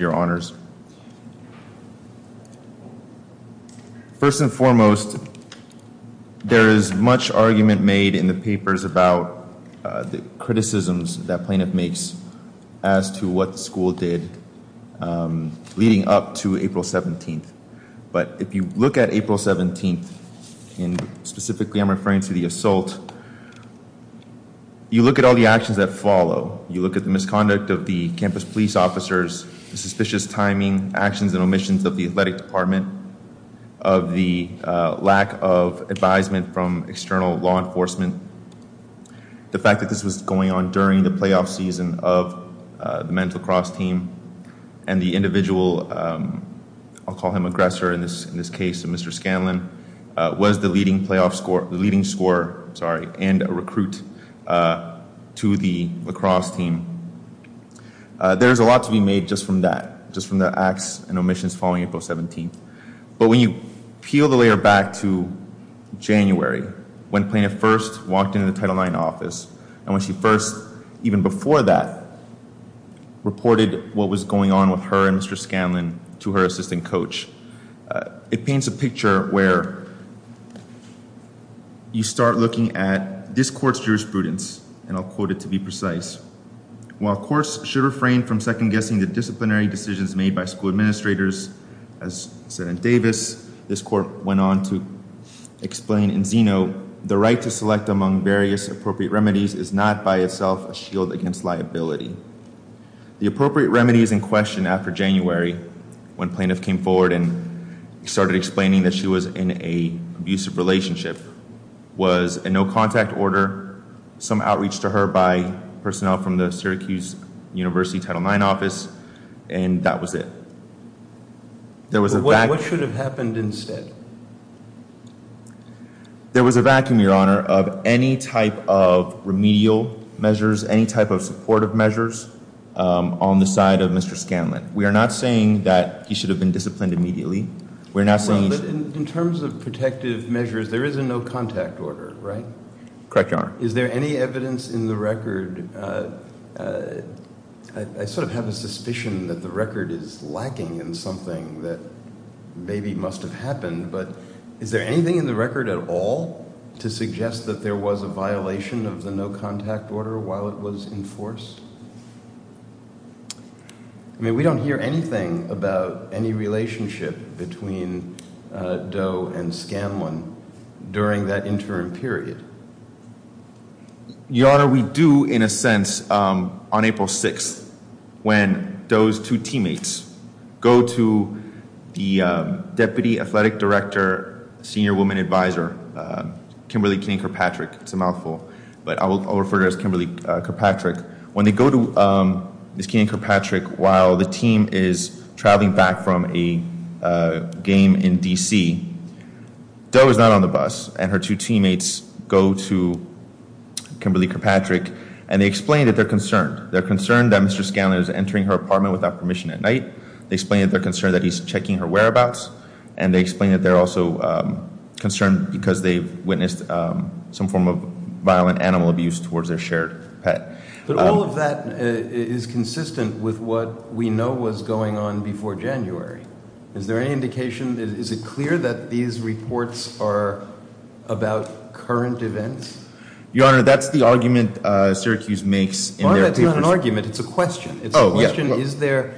your honors. First and foremost there is much argument made in the papers about the criticisms that plaintiff makes as to what the school did leading up to April 17th but if you look at April 17th and specifically I'm referring to the assault you look at all the actions that follow you look at the misconduct of the timing actions and omissions of the athletic department of the lack of advisement from external law enforcement the fact that this was going on during the playoff season of the men's lacrosse team and the individual I'll call him aggressor in this in this case of mr. Scanlon was the leading playoff score the leading scorer sorry and a recruit to the lacrosse team there's a lot to be made just from that just from the acts and omissions following April 17th but when you peel the layer back to January when plaintiff first walked into the Title IX office and when she first even before that reported what was going on with her and mr. Scanlon to her assistant coach it paints a picture where you start looking at this courts jurisprudence and I'll quote it to be disciplinary decisions made by school administrators as said in Davis this court went on to explain in Zeno the right to select among various appropriate remedies is not by itself a shield against liability the appropriate remedy is in question after January when plaintiff came forward and started explaining that she was in a abusive relationship was a no-contact order some outreach to her by personnel from the Syracuse University Title IX office and that was it there was a black what should have happened instead there was a vacuum your honor of any type of remedial measures any type of supportive measures on the side of mr. Scanlon we are not saying that he should have been disciplined immediately we're not saying in terms of protective measures there isn't no contact order right correct your honor is there any evidence in the record is lacking in something that maybe must have happened but is there anything in the record at all to suggest that there was a violation of the no contact order while it was enforced I mean we don't hear anything about any relationship between Doe and Scanlon during that interim period your honor we do in a sense on April 6th when those two teammates go to the deputy athletic director senior woman advisor Kimberly King Kirkpatrick it's a mouthful but I will refer to as Kimberly Kirkpatrick when they go to Miss King Kirkpatrick while the team is traveling back from a game in DC Doe is not on the bus and her two teammates go to Kimberly Kirkpatrick and they explain that they're concerned they're concerned that mr. Scanlon is entering her apartment without permission at night they explain that they're concerned that he's checking her whereabouts and they explain that they're also concerned because they've witnessed some form of violent animal abuse towards their shared pet but all of that is consistent with what we know was going on before January is there any current events your honor that's the argument Syracuse makes an argument it's a question oh yeah is there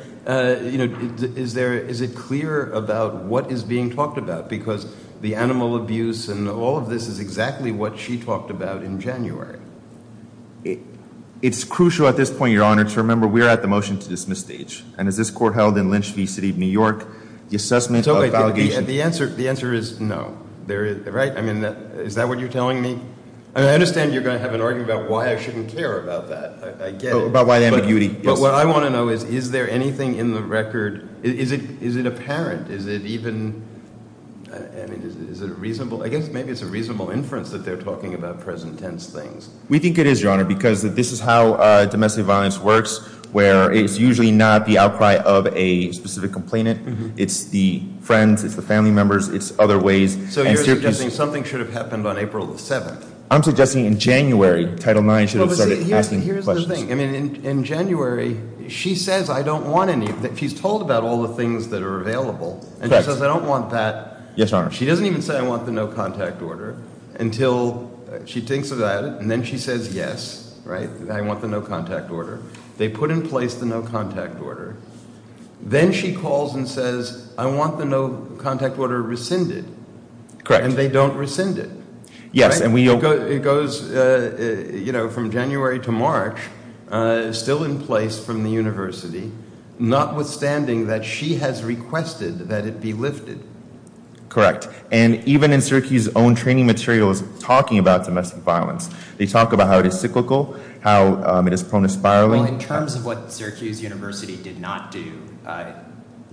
you know is there is it clear about what is being talked about because the animal abuse and all of this is exactly what she talked about in January it's crucial at this point your honor to remember we're at the motion to dismiss stage and as this court held in Lynch v City of New the answer the answer is no there is right I mean that is that what you're telling me I understand you're going to have an argument about why I shouldn't care about that I get about why the ambiguity but what I want to know is is there anything in the record is it is it apparent is it even I mean is it a reasonable I guess maybe it's a reasonable inference that they're talking about present tense things we think it is your honor because this is how domestic violence works where it's usually not the outcry of a specific complainant it's the friends it's the family members it's other ways so you're suggesting something should have happened on April the 7th I'm suggesting in January title 9 should have started in January she says I don't want any that she's told about all the things that are available and she says I don't want that yes honor she doesn't even say I want the no contact order until she thinks of that and then she says yes right I want the no contact order they put in place the no contact order then she calls and says I want the no contact order rescinded correct and they don't rescind it yes and we go it goes you know from January to March still in place from the University notwithstanding that she has requested that it be lifted correct and even in Syracuse own training materials talking about domestic violence they talk about how it cyclical how it is prone to spiraling in terms of what Syracuse University did not do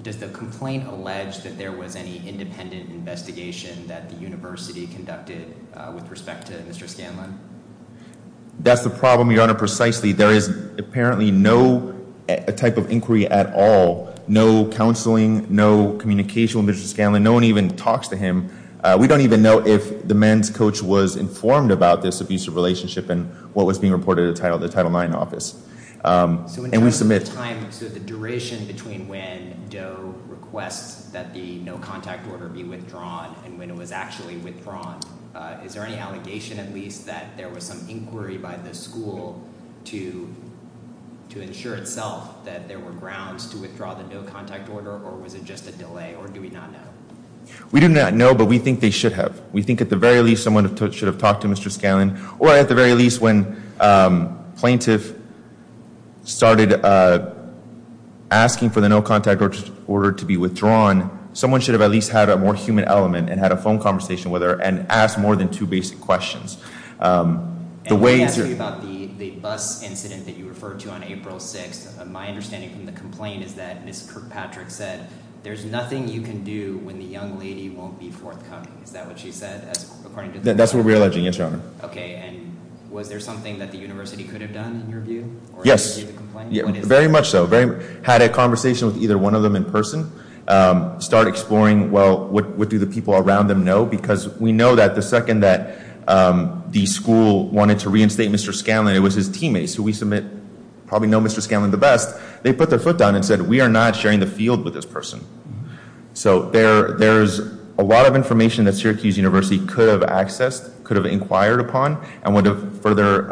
does the complaint allege that there was any independent investigation that the university conducted with respect to mr. Scanlon that's the problem your honor precisely there is apparently no type of inquiry at all no counseling no communication with mr. Scanlon no one even talks to him we don't even know if the men's coach was informed about this abusive relationship and what was being reported a title the title 9 office and we submit time to the duration between when requests that the no contact order be withdrawn and when it was actually withdrawn is there any allegation at least that there was some inquiry by the school to to ensure itself that there were grounds to withdraw the no contact order or was it just a delay or do we not know we do not know but we think they should have we think at the very least someone should have talked to mr. Scanlon or at the very least when plaintiff started asking for the no contact order to be withdrawn someone should have at least had a more human element and had a phone conversation with her and asked more than two basic questions the way that's what we're alleging yes your honor okay and was there something that the university could have done yes very much so very had a conversation with either one of them in person start exploring well what would do the people around them know because we know that the second that the school wanted to reinstate mr. Scanlon it was his teammates who we submit probably know mr. Scanlon the best they put their foot down and said we are not sharing the field with this person so there there's a lot of information that Syracuse University could have accessed could have inquired upon and would have further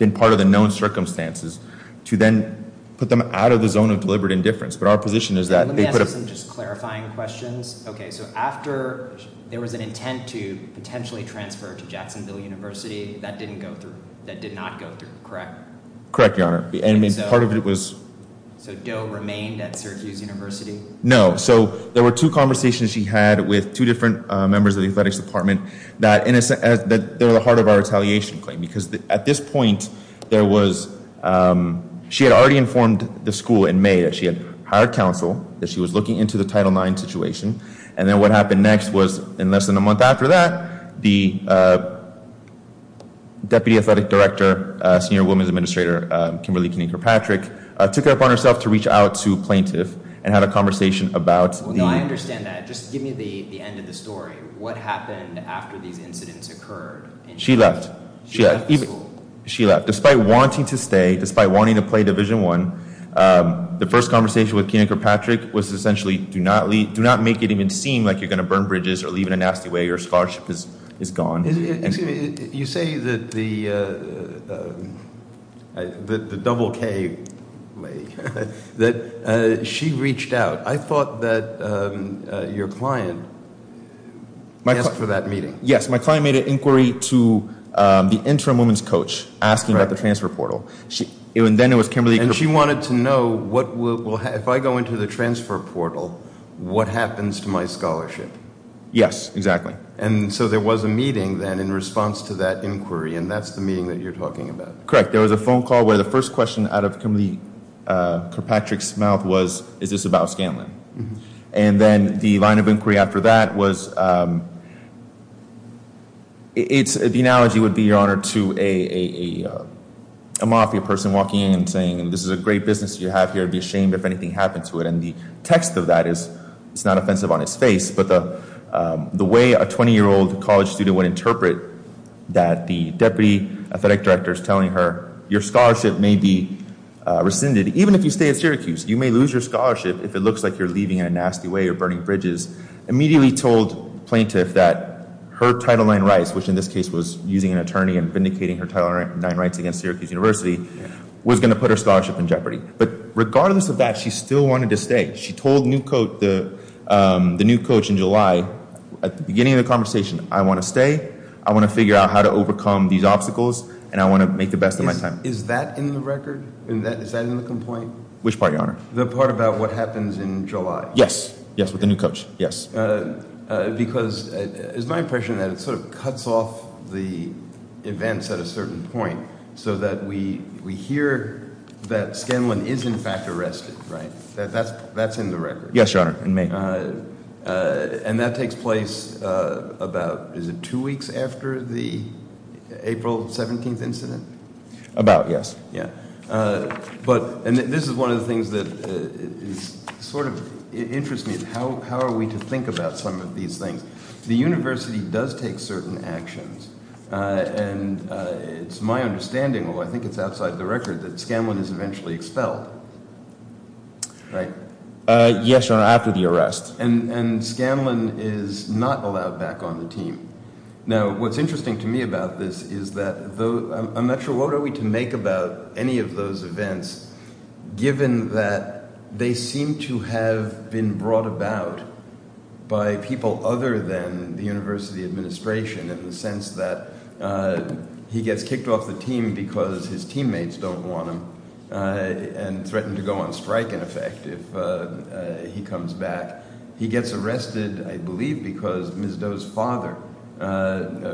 been part of the known circumstances to then put them out of the zone of deliberate indifference but our position is that just clarifying questions okay so after there was an intent to potentially transfer to Jacksonville University that didn't go through that did not go through correct correct your honor the enemy part of it was so Joe remained at Syracuse University no so there were two conversations she had with two different members of the athletics department that innocent as that they're the heart of our retaliation claim because at this point there was she had already informed the school in May that she had hired counsel that she was looking into the title 9 situation and then what happened next was in less than a month after that the deputy athletic director senior women's administrator Kimberly can anchor Patrick took up on herself to reach out to plaintiff and had a conversation about she left yeah she left despite wanting to stay despite wanting to play division one the first conversation with Kennecker Patrick was essentially do not leave do not make it even seem like you're gonna burn bridges or leave in a nasty way your scholarship is is gone you say that the the double K that she reached out I thought that your client might look for that meeting yes my client made an inquiry to the interim women's coach asking about the transfer portal she even then it was Kimberly and she wanted to know what will have I go into the transfer portal what happens to my scholarship yes exactly and so there was a meeting then in response to that inquiry and that's the meeting that you're talking about correct there was a phone call where the first question out of Kimberly Kirkpatrick's mouth was is this about Scanlon and then the line of inquiry after that was it's the analogy would be your honor to a mafia person walking in and saying and this is a great business you have here to be ashamed if anything happened to it and the text of that is it's not offensive on its face but the the way a 20 year old college student would interpret that the deputy athletic directors telling her your scholarship may be rescinded even if you stay at Syracuse you may lose your scholarship if it looks like you're leaving in a nasty way or burning bridges immediately told plaintiff that her title line rights which in this case was using an attorney and vindicating her title right nine rights against Syracuse University was going to put her scholarship in jeopardy but regardless of that she still wanted to stay she told new coat the the new coach in July at the beginning of the conversation I want to stay I want to figure out how to overcome these obstacles and I want to make the best of my time is that in the record and that is that in the complaint which party honor the part about what happens in July yes yes with the new coach yes because it's my impression that it sort of cuts off the events at a certain point so that we we hear that Scanlon is in fact arrested right that's that's in the record yes your honor in May and that takes place about is it two weeks after the April 17th incident about yes yeah but and this is one of the things that is sort of interest me how are we to think about some of these things the university does take certain actions and it's my understanding well I think it's outside the record that Scanlon is eventually expelled right yes or after the arrest and and Scanlon is not allowed back on the team now what's interesting to me about this is that though I'm not sure what are we to make about any of those events given that they seem to have been brought about by people other than the university administration in the sense that he gets kicked off the team because his teammates don't want him and threatened to go on strike in effect if he comes back he gets arrested I believe because Ms. Doe's father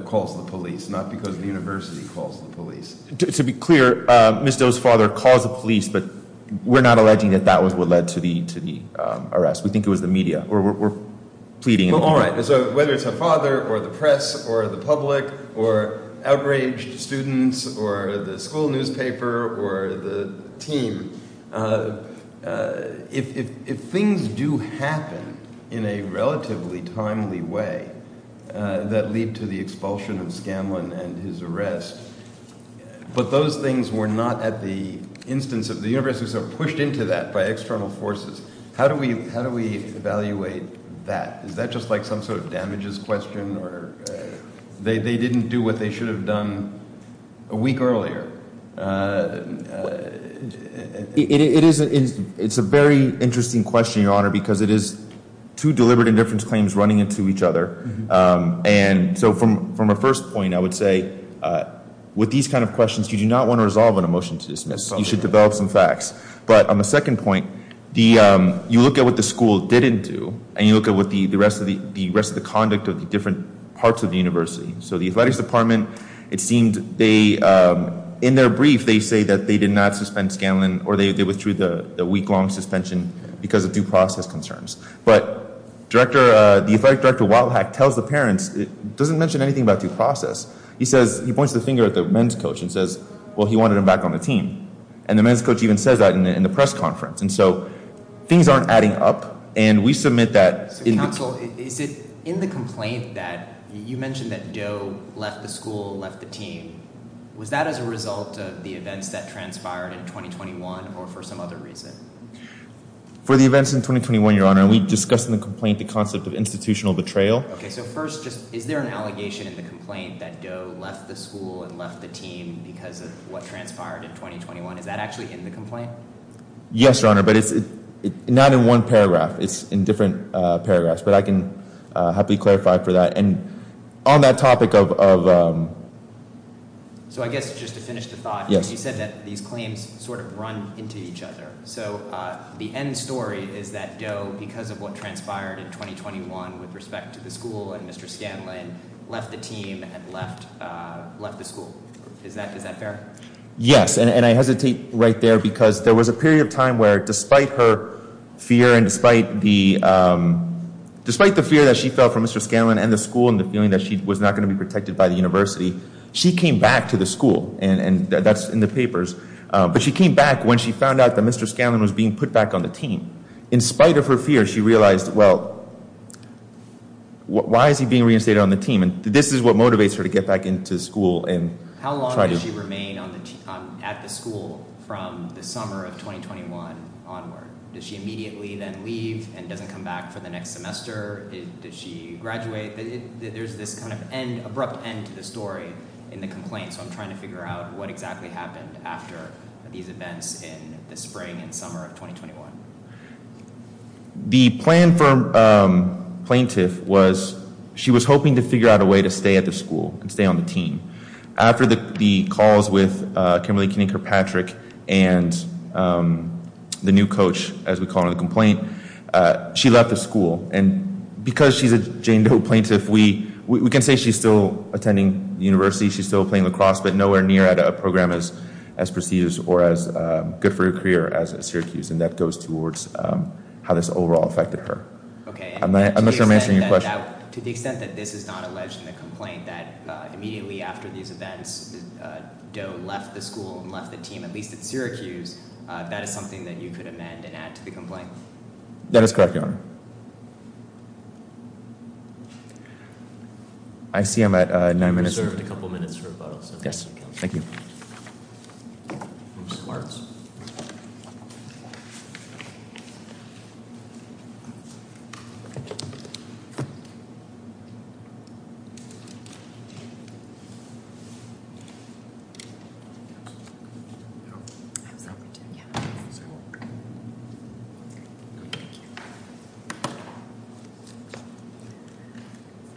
calls the police not because the university calls the police to be clear Ms. Doe's father calls the police but we're not alleging that that was what led to the to the arrest we think it was the media or we're pleading alright so whether it's her father or the press or the public or outraged students or the school newspaper or the team if things do happen in a relatively timely way that lead to the expulsion of Scanlon and his arrest but those things were not at the instance of the universities are pushed into that by external forces how do we how do we evaluate that is that just like some sort of damages question or they they didn't do what they should have done a week earlier it is it's a very interesting question your honor because it is two deliberate indifference running into each other and so from from a first point I would say with these kind of questions you do not want to resolve on a motion to dismiss you should develop some facts but on the second point the you look at what the school didn't do and you look at what the the rest of the the rest of the conduct of the different parts of the university so the athletics department it seemed they in their brief they say that they did not suspend Scanlon or they withdrew the week-long suspension because of due process concerns but director the effect director while hack tells the parents it doesn't mention anything about due process he says he points the finger at the men's coach and says well he wanted him back on the team and the men's coach even says that in the press conference and so things aren't adding up and we submit that in council is it in the complaint that you mentioned that Joe left the school left the team was that as a result of the events that transpired in 2021 or for for the events in 2021 your honor we discussed in the complaint the concept of institutional betrayal okay so first just is there an allegation in the complaint that Joe left the school and left the team because of what transpired in 2021 is that actually in the complaint yes your honor but it's not in one paragraph it's in different paragraphs but I can happily clarify for that and on that topic of so I guess just to finish the thought yes you said these claims sort of run into each other so the end story is that Joe because of what transpired in 2021 with respect to the school and mr. Scanlon left the team and left left the school is that is that fair yes and I hesitate right there because there was a period of time where despite her fear and despite the despite the fear that she felt from mr. Scanlon and the school and the feeling that she was not going to be protected by the University she came back to the school and and that's in the papers but she came back when she found out that mr. Scanlon was being put back on the team in spite of her fear she realized well why is he being reinstated on the team and this is what motivates her to get back into school and how long does she remain at the school from the summer of 2021 onward does she immediately then leave and doesn't come back for the next semester did she graduate there's this kind of abrupt end to the story in the complaint so I'm trying to figure out what exactly happened after these events in the spring and summer of 2021 the plan for plaintiff was she was hoping to figure out a way to stay at the school and stay on the team after the calls with Kimberly Kinney Kirkpatrick and the new coach as we call it a complaint she left the school and because she's a plaintiff we we can say she's still attending university she's still playing lacrosse but nowhere near at a program as as procedures or as good for your career as a Syracuse and that goes towards how this overall affected her okay I'm not sure I'm answering your question. To the extent that this is not alleged in the complaint that immediately after these events Doe left the school and left the team at least at Syracuse that is something that you could amend and add to the complaint That is correct your honor. I see I'm at nine minutes. Yes, thank you.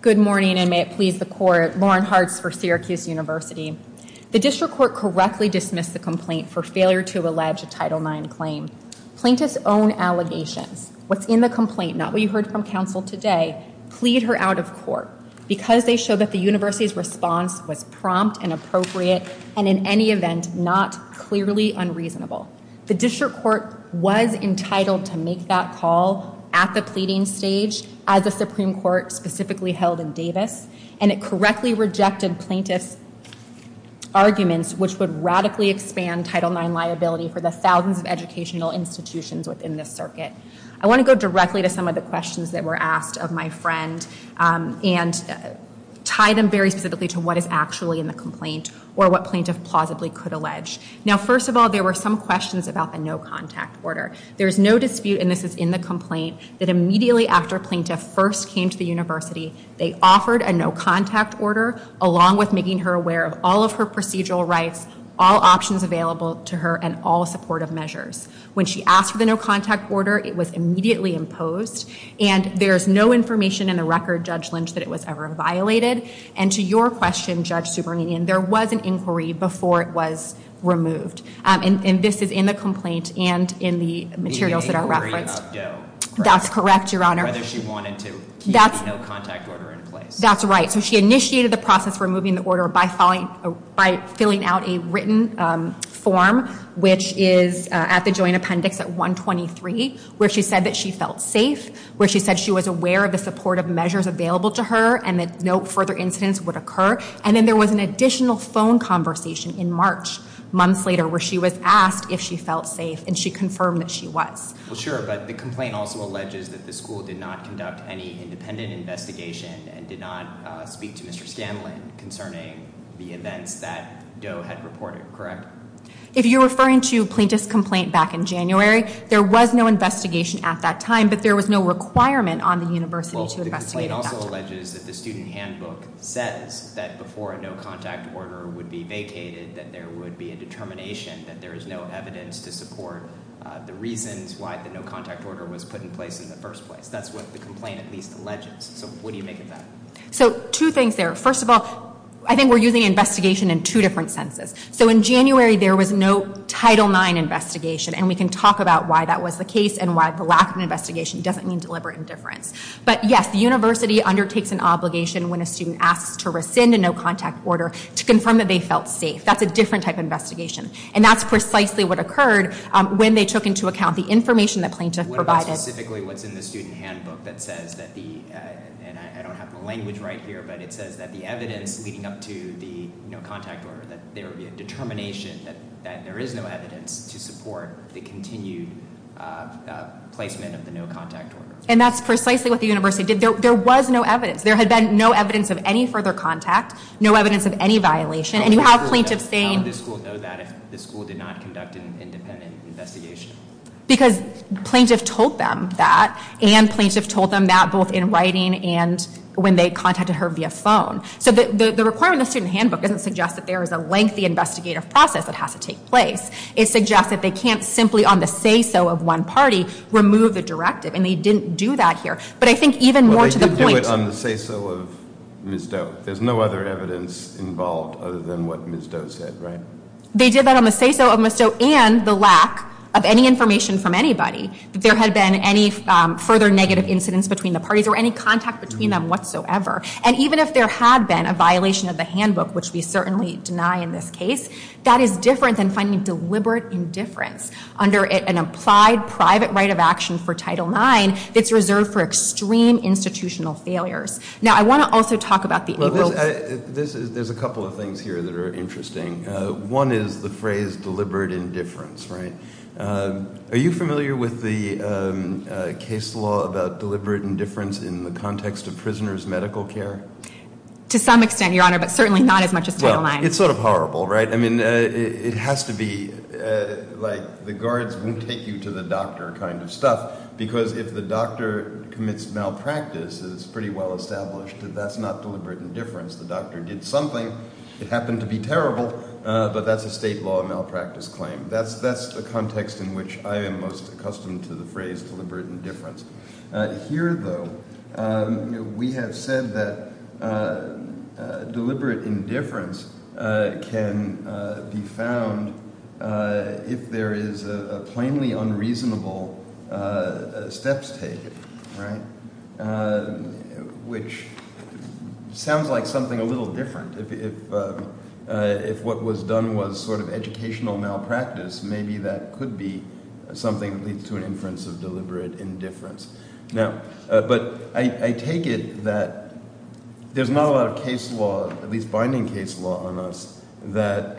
Good morning and may it please the court Lauren Hartz for Syracuse University. The district court correctly dismissed the complaint for failure to allege a title nine claim. Plaintiffs own allegations what's in the complaint not what you heard from council today plead her out of court because they show that the university's response was prompt and appropriate and in any event not clearly unreasonable. The district court was entitled to make that call at the pleading stage as a supreme court specifically held in Davis and it correctly rejected plaintiffs arguments which would radically expand title nine liability for the thousands of educational institutions within this circuit. I want to go directly to some of the questions that were asked of my friend and tie them very specifically to what is actually in the complaint or what plaintiff plausibly could allege. Now first of all there were some questions about the no contact order. There's no dispute and this is in the complaint that immediately after plaintiff first came to the university they offered a no contact order along with making her aware of all of her procedural rights all options available to her and all supportive measures. When she asked for the no contact order it was immediately imposed and there's no information in the record Judge Lynch that it was ever violated and to your question Judge Subramanian there was an inquiry before it was removed and this is in the complaint and in the materials that are referenced. That's correct your honor. Whether she wanted to that's no contact order in place. That's right so she initiated the process removing the order by filing by filling out a written form which is at the joint appendix at 123 where she said that she felt safe where she said she was aware of the supportive measures available to her and that no further incidents would occur and then there was an additional phone conversation in March months later where she was asked if she felt safe and she confirmed that she was. Well sure but the complaint also alleges that the school did not conduct any independent investigation and did not speak to Mr. Scanlon concerning the events that Doe had reported correct? If you're referring to plaintiff's complaint back in January there was no investigation at that time but there was no requirement on the university to investigate. Well the complaint also alleges that the student handbook says that before a no contact order would be vacated that there would be a determination that there is no evidence to support the reasons why the no contact order was put in place in the first place. That's what the complaint at least alleges. So what do you make of that? So two things there. First of all I think we're using investigation in two different senses. So in January there was no Title IX investigation and we can talk about why that was the case and why the lack of investigation doesn't mean deliberate indifference. But yes the university undertakes an obligation when a student asks to rescind a no contact order to confirm that they felt safe. That's a different type of investigation and that's precisely what occurred when they took into account the information the plaintiff provided. What about specifically what's in the student handbook that says that the and I don't have the language right here but it says that the evidence leading up to the no contact order that there would be a determination that that there is no evidence to support the placement of the no contact order. And that's precisely what the university did. There was no evidence. There had been no evidence of any further contact, no evidence of any violation, and you have plaintiffs saying... How would the school know that if the school did not conduct an independent investigation? Because plaintiff told them that and plaintiff told them that both in writing and when they contacted her via phone. So the requirement of student handbook doesn't suggest that there is a lengthy investigative process that has to take place. It suggests that they can't simply on the say-so of one party remove the directive and they didn't do that here. But I think even more to the point... They did do it on the say-so of Ms. Doe. There's no other evidence involved other than what Ms. Doe said, right? They did that on the say-so of Ms. Doe and the lack of any information from anybody that there had been any further negative incidents between the parties or any contact between them whatsoever. And even if there had been a violation of the handbook, which we certainly deny in this case, that is different than finding deliberate indifference under an applied private right of action for Title IX that's reserved for extreme institutional failures. Now I want to also talk about the... Well, there's a couple of things here that are interesting. One is the phrase deliberate indifference, right? Are you familiar with the case law about deliberate indifference in the context of prisoners' medical care? To some extent, Your Honor, but certainly not as much as Title IX. It's sort of horrible, right? I mean, it has to be like the guards won't take you to the doctor kind of stuff because if the doctor commits malpractice, it's pretty well established that that's not deliberate indifference. The doctor did something. It happened to be terrible, but that's a state law malpractice claim. That's the context in which I am most accustomed to the phrase deliberate indifference. Here, though, we have said that deliberate indifference can be found if there is a plainly unreasonable steps taken, right? Which sounds like something a little different. If what was done was sort of educational malpractice, maybe that could be something that leads to an inference of deliberate indifference. Now, but I take it that there's not a lot of case law, at least binding case law on us, that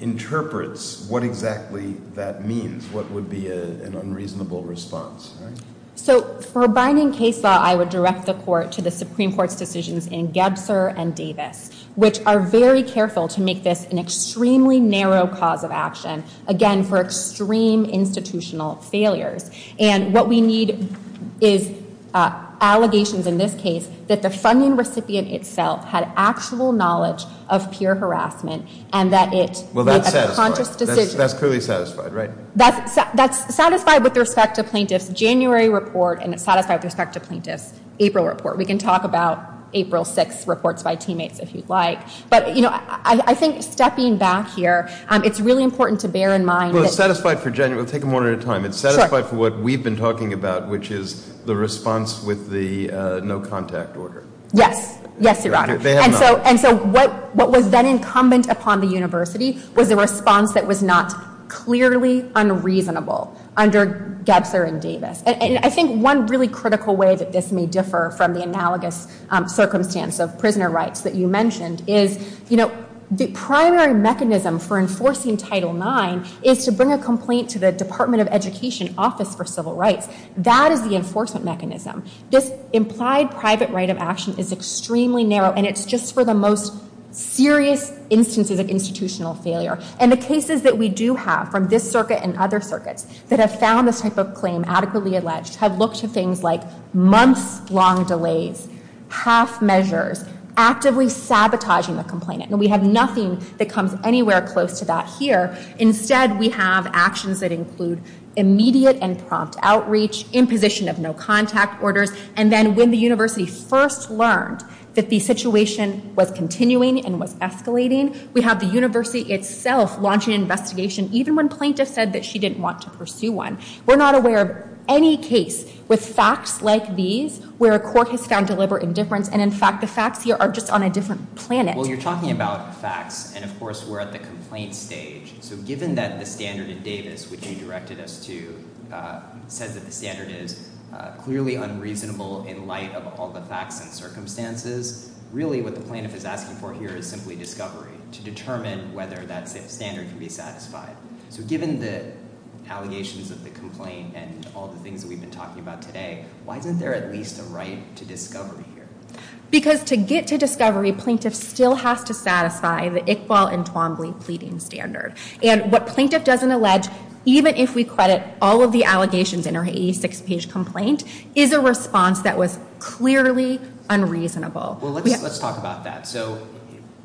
interprets what exactly that means, what would be an unreasonable response, right? So for binding case law, I would direct the Court to the Supreme Court's decisions in Gebser and Davis, which are very careful to make this an extremely narrow cause of action, again, for extreme institutional failures. And what we need is allegations in this case that the funding recipient itself had actual knowledge of peer harassment and that it was a conscious decision. Well, that's satisfied. That's clearly satisfied, right? That's satisfied with respect to plaintiff's January report and it's satisfied with respect to plaintiff's April report. We can talk about April 6th reports by teammates if you'd like. But, you know, I think stepping back here, it's really important to bear in mind that... Well, it's satisfied for January. We'll take them one at a time. It's satisfied for what we've been talking about, which is the response with the no contact order. Yes. Yes, Your Honor. And so what was then incumbent upon the university was a response that was not clearly unreasonable under Gebser and Davis. And I think one really critical way that this may differ from the analogous circumstance of prisoner rights that you mentioned is, you know, the primary mechanism for enforcing Title IX is to bring a complaint to the Department of Education Office for Civil Rights. That is the enforcement mechanism. This implied private right of action is extremely narrow and it's just for the most serious instances of institutional failure. And the cases that we do have from this circuit and other circuits that have found this type of claim adequately alleged have looked to things like months long delays, half measures, actively sabotaging the complainant. And we have nothing that comes anywhere close to that here. Instead, we have actions that include immediate and prompt outreach, imposition of no contact orders. And then when the university first learned that the situation was continuing and was escalating, we have the university itself launching an investigation even when plaintiff said that she didn't want to pursue one. We're not aware of any case with facts like these where a court has found deliberate indifference. And in fact, the facts here are just on a different planet. Well, you're talking about facts. And of course, we're at the complaint stage. So given that the standard in Davis, which you directed us to, said that the standard is clearly unreasonable in light of all the facts and circumstances, really what the plaintiff is asking for here is simply discovery to determine whether that standard can be satisfied. So given the allegations of the complaint and all the things that we've been talking about today, why isn't there at least a right to discovery here? Because to get to discovery, plaintiff still has to satisfy the Iqbal and Twombly pleading standard. And what plaintiff doesn't allege, even if we credit all of the allegations in our 86-page complaint, is a response that was clearly unreasonable. Well, let's talk about that. So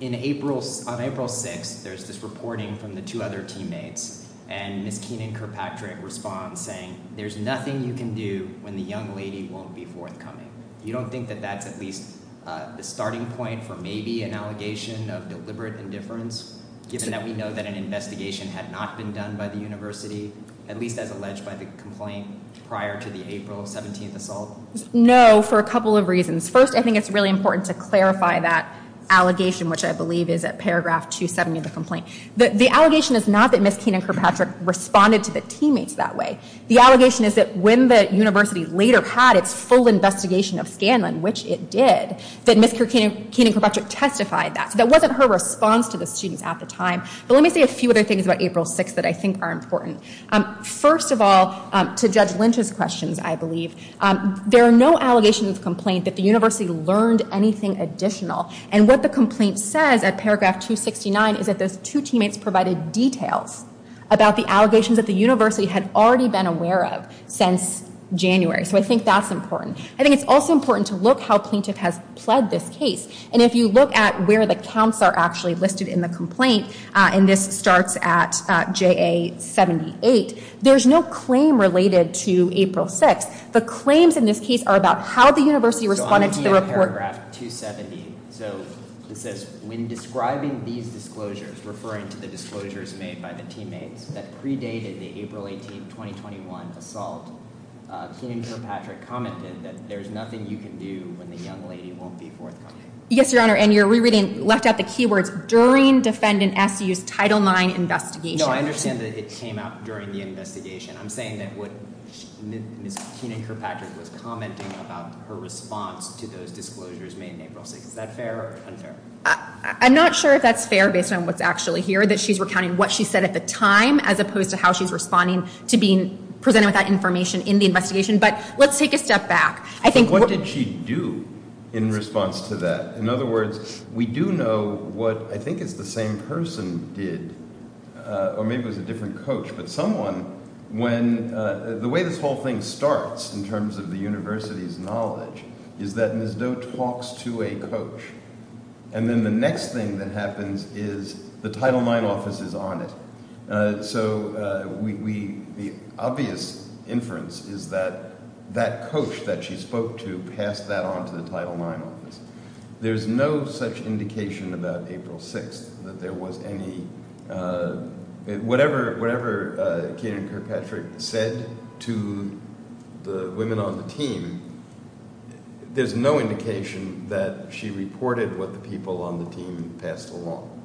on April 6th, there's this reporting from the two other teammates. And Ms. Keenan Kirkpatrick responds saying, there's nothing you can do when the young lady won't be forthcoming. You don't think that that's at least the starting point for maybe an allegation of deliberate indifference, given that we know that an investigation had not been done by the university, at least as alleged by the complaint prior to the April 17th assault? No, for a couple of reasons. First, I think it's really important to clarify that allegation, which I believe is at paragraph 270 of the complaint. The allegation is not that Ms. Keenan Kirkpatrick responded to the teammates that way. The allegation is that when the university later had its full investigation of Scanlon, which it did, that Ms. Keenan Kirkpatrick testified that. So that wasn't her response to the students at the time. But let me say a few other things about April 6th that I think are important. First of all, to Judge Lynch's questions, I believe, there are no allegations of complaint that the university learned anything additional. And what the complaint says at paragraph 269 is that those two teammates provided details about the allegations that the university had already been aware of since January. So I think that's important. I think it's also important to look how plaintiff has pled this case. And if you look at where the counts are actually listed in the complaint, and this starts at JA 78, there's no claim related to April 6th. The claims in this case are about how the university responded to the report. So on the paragraph 270, so it says, when describing these disclosures, referring to the disclosures made by the teammates that predated the April 18, 2021 assault, Keenan Kirkpatrick commented that there's nothing you can do when the young lady won't be forthcoming. Yes, Your Honor. And you're rereading, left out the keywords, during defendant SU's Title IX investigation. No, I understand that it came out during the investigation. I'm saying that what Ms. Keenan Kirkpatrick was commenting about her response to those disclosures made in April 6th. Is that fair or unfair? I'm not sure if that's fair based on what's actually here, that she's recounting what she said at the time, as opposed to how she's responding to being presented with that information in the investigation. But let's take a step back. What did she do in response to that? In other words, we do know what I think it's the same person did, or maybe it was a different coach, but someone, when the way this whole thing starts in terms of the university's knowledge, is that Ms. Doe talks to a coach. And then the next thing that happens is the Title IX office is on it. So the obvious inference is that that coach that she spoke to passed that on to the Title IX office. There's no such indication about April 6th that there was any, whatever Keenan Kirkpatrick said to the women on the team, there's no indication that she reported what the people on the team passed along.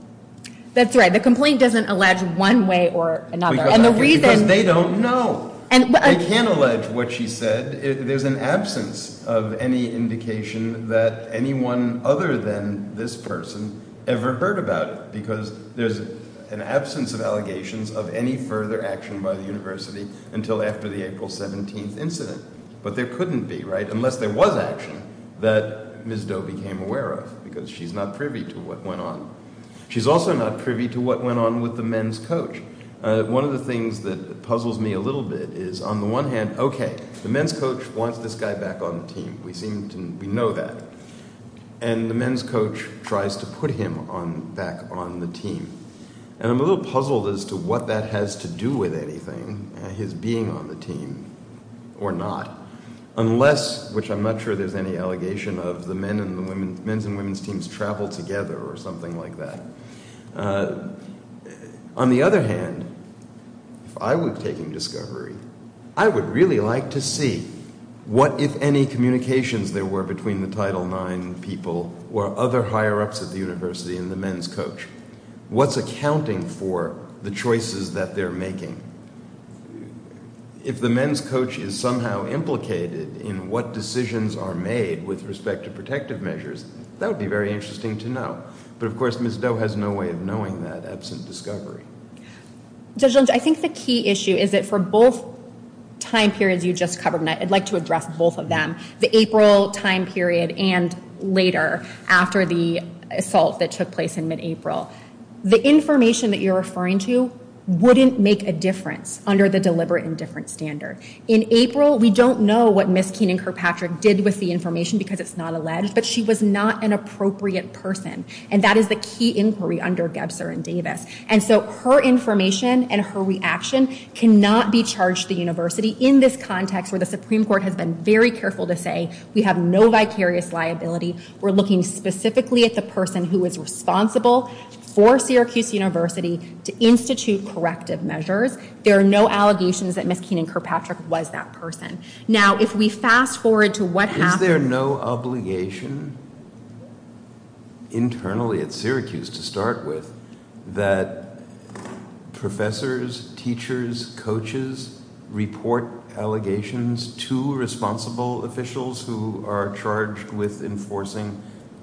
That's right. The complaint doesn't allege one way or another. Because they don't know. They can't allege what she said. There's an absence of any indication that anyone other than this person ever heard about it, because there's an absence of allegations of any further action by the university until after the April 17th incident. But there couldn't be, right? Unless there was action that Ms. Doe became aware of, because she's not privy to what went on. She's also not privy to what went on with the men's coach. One of the things that puzzles me a little bit is, on the one hand, okay, the men's coach wants this guy back on the team. We seem to know that. And the men's coach tries to put him back on the team. And I'm a little puzzled as to what that has to do with anything, his being on the team or not. Unless, which I'm not sure there's any allegation of, the men's and women's teams travel together or something like that. On the other hand, if I was taking discovery, I would really like to see what, if any, communications there were between the Title IX people or other higher-ups at the university and the men's coach. What's accounting for the choices that they're making? If the men's coach is somehow implicated in what decisions are made with respect to protective measures, that would be very interesting to know. But of course, Ms. Doe has no way of knowing that absent discovery. Judge Lynch, I think the key issue is that for both time periods you just covered, I'd like to address both of them. The April time period and later, after the assault that took place in mid-April. The information that you're referring to wouldn't make a difference under the deliberate indifference standard. In April, we don't know what Ms. Keenan Kirkpatrick did with the information because it's not alleged, but she was not an appropriate person. That is the key inquiry under Gebser and Davis. Her information and her reaction cannot be charged to the university in this context where the Supreme Court has been very careful to say, we have no vicarious liability. We're looking specifically at the person who is responsible for Syracuse University to institute corrective measures. There are no allegations that Ms. Keenan Kirkpatrick was that person. Now, if we fast forward to what happened- Internally at Syracuse, to start with, that professors, teachers, coaches report allegations to responsible officials who are charged with enforcing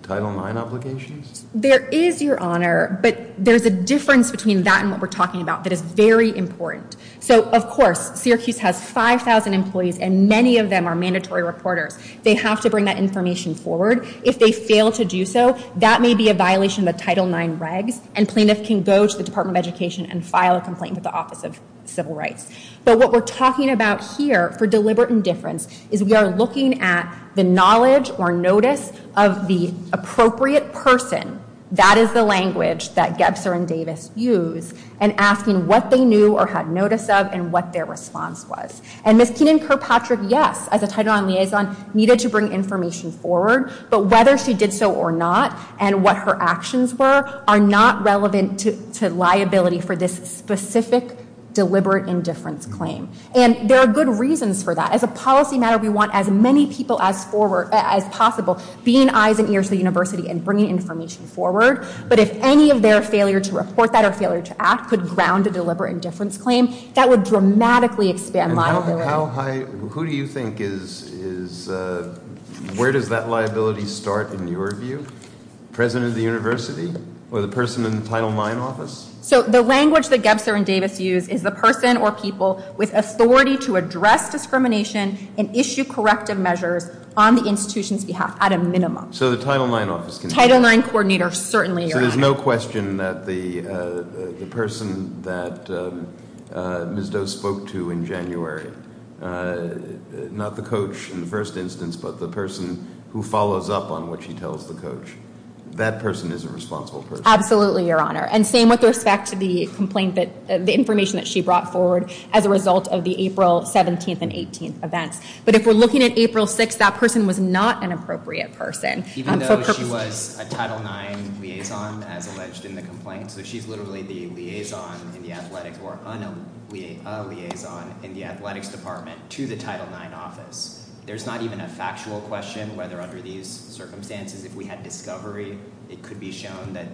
Title IX obligations? There is, Your Honor, but there's a difference between that and what we're talking about that is very important. So, of course, Syracuse has 5,000 employees and many of them are mandatory reporters. They have to bring that information forward. If they fail to do so, that may be a violation of Title IX regs and plaintiff can go to the Department of Education and file a complaint with the Office of Civil Rights. But what we're talking about here for deliberate indifference is we are looking at the knowledge or notice of the appropriate person. That is the language that Gebser and Davis use and asking what they knew or had notice of and what their response was. And Ms. Keenan Kirkpatrick, yes, as a Title IX liaison, needed to bring information forward, but whether she did so or not and what her actions were are not relevant to liability for this specific deliberate indifference claim. And there are good reasons for that. As a policy matter, we want as many people as possible being eyes and ears of the university and bringing information forward. But if any of their failure to report that or failure to act could ground a deliberate indifference claim, that would dramatically expand liability. Who do you think is, where does that liability start in your view? President of the university or the person in the Title IX office? So the language that Gebser and Davis use is the person or people with authority to address discrimination and issue corrective measures on the institution's behalf at a minimum. So the Title IX office can do that? Title IX coordinator certainly. So there's no question that the person that Ms. Doe spoke to in January was not the coach in the first instance, but the person who follows up on what she tells the coach. That person is a responsible person. Absolutely, Your Honor. And same with respect to the complaint that, the information that she brought forward as a result of the April 17th and 18th events. But if we're looking at April 6th, that person was not an appropriate person. Even though she was a Title IX liaison as alleged in the complaint. So she's literally the liaison in the athletics or a liaison in the athletics department to the Title IX office. There's not even a factual question whether under these circumstances, if we had discovery, it could be shown that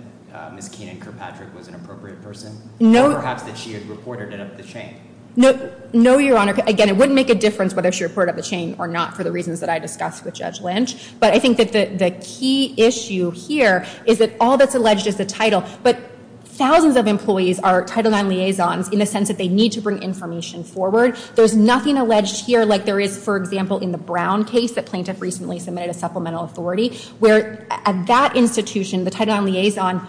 Ms. Keenan Kirkpatrick was an appropriate person. Or perhaps that she had reported it up the chain. No, Your Honor. Again, it wouldn't make a difference whether she reported up the chain or not for the reasons that I discussed with Judge Lynch. But I think that the key issue here is that all that's alleged is the title. But thousands of employees are Title IX liaisons in the sense that they need to bring information forward. There's nothing alleged here like there is, for example, in the Brown case that plaintiff recently submitted a supplemental authority. Where at that institution, the Title IX liaison,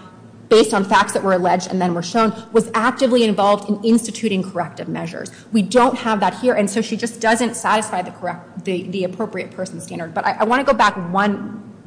based on facts that were alleged and then were shown, was actively involved in instituting corrective measures. We don't have that here. And so she just doesn't satisfy the appropriate person standard. But I want to go back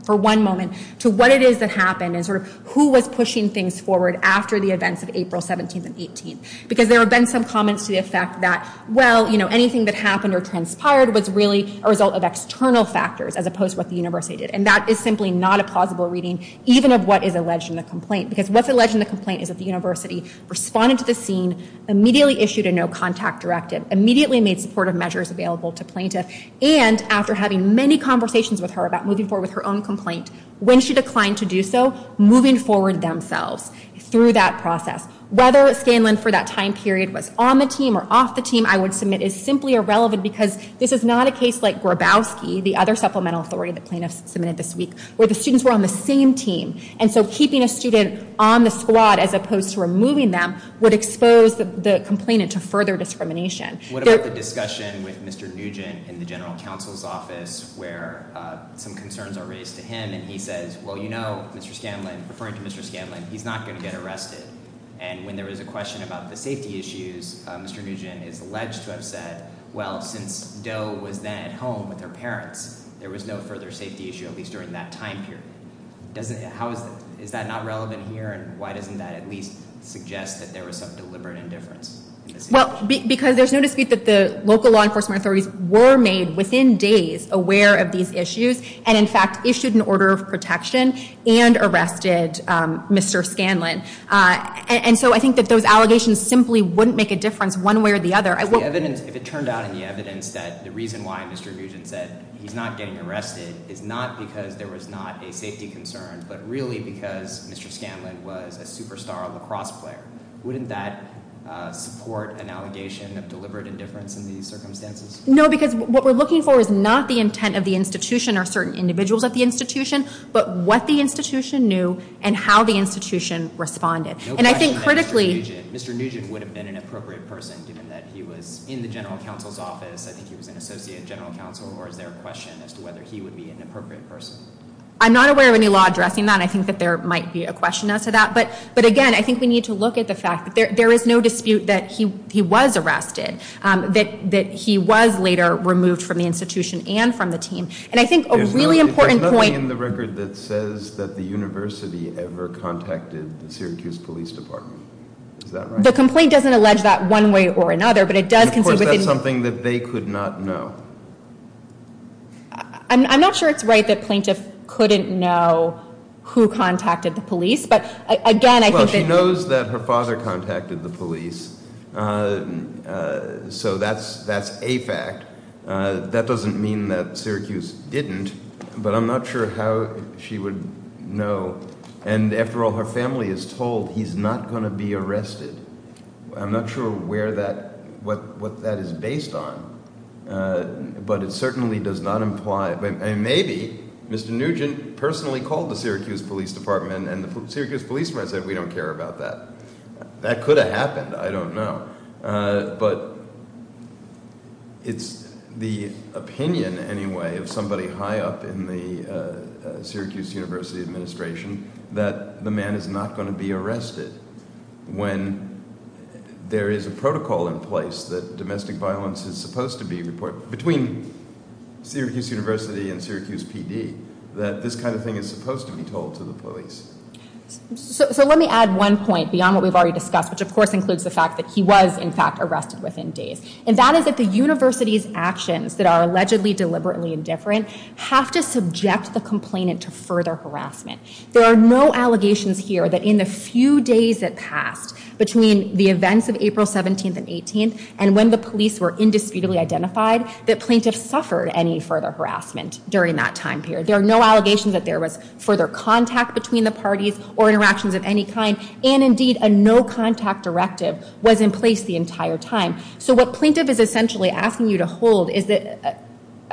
for one moment to what it is that happened and who was pushing things forward after the events of April 17th and 18th. Because there have been some comments to the effect that, well, anything that happened or transpired was really a result of external factors, as opposed to what the university did. And that is simply not a plausible reading, even of what is alleged in the complaint. Because what's alleged in the complaint is that the university responded to the scene, immediately issued a no-contact directive, immediately made supportive measures available to plaintiff. And after having many conversations with her about moving forward with her own complaint, when she declined to do so, moving forward themselves through that process. Whether Scanlon, for that time period, was on the team or off the team, I would submit is simply irrelevant. Because this is not a case like Grabowski, the other supplemental authority that plaintiffs submitted this week, where the students were on the same team. And so keeping a student on the squad, as opposed to removing them, would expose the complainant to further discrimination. What about the discussion with Mr. Nugent in the general counsel's office, where some concerns are raised to him. And he says, well, you know, Mr. Scanlon, referring to Mr. Scanlon, he's not going to get arrested. And when there was a question about the safety issues, Mr. Nugent is alleged to have said, well, since Doe was then at home with her parents, there was no further safety issue, at least during that time period. Is that not relevant here? And why doesn't that at least suggest that there was some deliberate indifference? Well, because there's no dispute that the local law enforcement authorities were made, within days, aware of these issues. And in fact, issued an order of protection and arrested Mr. Scanlon. And so I think that those allegations simply wouldn't make a difference one way or the other. If it turned out in the evidence that the reason why Mr. Nugent said he's not getting arrested is not because there was not a safety concern, but really because Mr. Scanlon was a superstar lacrosse player, wouldn't that support an allegation of deliberate indifference in these circumstances? No, because what we're looking for is not the intent of the institution or certain individuals at the institution, but what the institution knew and how the institution responded. And I think critically... Mr. Nugent would have been an appropriate person, given that he was in the general counsel's office. I think he was an associate general counsel, or is there a question as to whether he would be an appropriate person? I'm not aware of any law addressing that. I think that there might be a question as to that. But again, I think we need to look at the fact that there is no dispute that he was arrested, that he was later removed from the institution and from the team. And I think a really important point... There's nothing in the record that says that the university ever contacted the Syracuse Police Department. Is that right? The complaint doesn't allege that one way or another, but it does... Of course, that's something that they could not know. I'm not sure it's right that plaintiff couldn't know who contacted the police, Well, she knows that her father contacted the police. So that's a fact. That doesn't mean that Syracuse didn't. But I'm not sure how she would know. And after all, her family is told he's not going to be arrested. I'm not sure what that is based on. But it certainly does not imply... Maybe Mr. Nugent personally called the Syracuse Police Department and the Syracuse policeman said, we don't care about that. That could have happened. I don't know. But it's the opinion, anyway, of somebody high up in the Syracuse University administration that the man is not going to be arrested when there is a protocol in place that domestic violence is supposed to be reported between Syracuse University and Syracuse PD, that this kind of thing is supposed to be told to the police. So let me add one point beyond what we've already discussed, which, of course, includes the fact that he was, in fact, arrested within days. And that is that the university's actions that are allegedly deliberately indifferent have to subject the complainant to further harassment. There are no allegations here that in the few days that passed between the events of April 17th and 18th, and when the police were indisputably identified, that plaintiffs suffered any further harassment during that time period. There are no allegations that there was further contact between the parties or interactions of any kind. And indeed, a no-contact directive was in place the entire time. So what plaintiff is essentially asking you to hold is that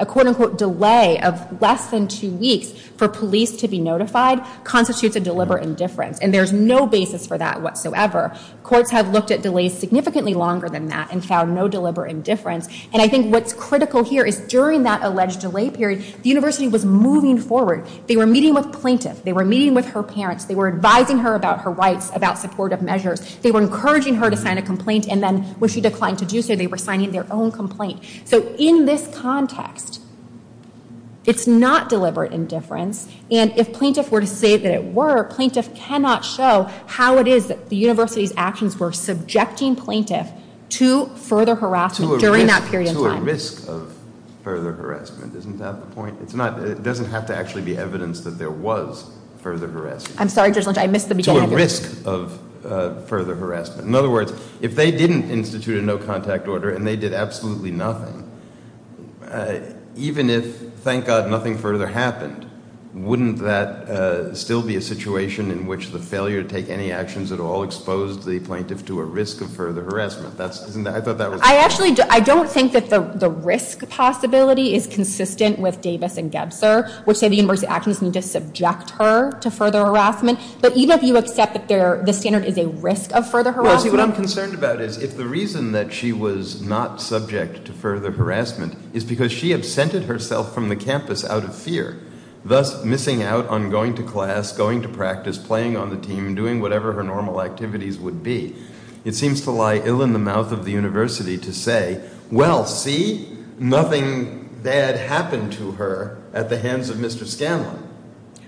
a, quote unquote, delay of less than two weeks for police to be notified constitutes a deliberate indifference. And there's no basis for that whatsoever. Courts have looked at delays significantly longer than that and found no deliberate indifference. And I think what's critical here is during that alleged delay period, the university was moving forward. They were meeting with plaintiff. They were meeting with her parents. They were advising her about her rights, about supportive measures. They were encouraging her to sign a complaint. And then when she declined to do so, they were signing their own complaint. So in this context, it's not deliberate indifference. And if plaintiff were to say that it were, plaintiff cannot show how it is that the university's actions were subjecting plaintiff to further harassment during that period of time. To a risk of further harassment. Isn't that the point? It's not. It doesn't have to actually be evidence that there was further harassment. I'm sorry, Judge Lynch, I missed the beginning of your question. To a risk of further harassment. In other words, if they didn't institute a no-contact order and they did absolutely nothing, even if, thank God, nothing further happened, wouldn't that still be a situation in which the failure to take any actions at all exposed the plaintiff to a risk of further harassment? That's, isn't that, I thought that was. Which say the university actions need to subject her to further harassment. But even if you accept that the standard is a risk of further harassment. Well, see, what I'm concerned about is if the reason that she was not subject to further harassment is because she absented herself from the campus out of fear, thus missing out on going to class, going to practice, playing on the team, doing whatever her normal activities would be. It seems to lie ill in the mouth of the university to say, well, see, nothing bad happened to her at the hands of Mr. Scanlon.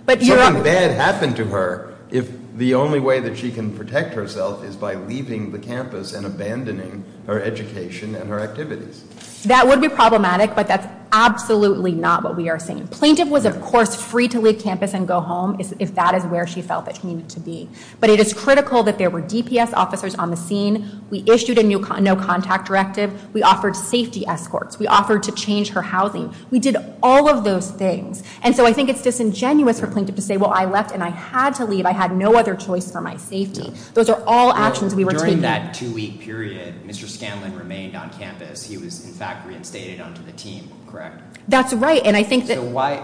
Something bad happened to her if the only way that she can protect herself is by leaving the campus and abandoning her education and her activities. That would be problematic, but that's absolutely not what we are seeing. Plaintiff was, of course, free to leave campus and go home if that is where she felt that she needed to be. But it is critical that there were DPS officers on the scene. We issued a no-contact directive. We offered safety escorts. We offered to change her housing. We did all of those things. And so I think it's disingenuous for Plaintiff to say, well, I left and I had to leave. I had no other choice for my safety. Those are all actions we were taking. During that two-week period, Mr. Scanlon remained on campus. He was, in fact, reinstated onto the team, correct? That's right. And I think that...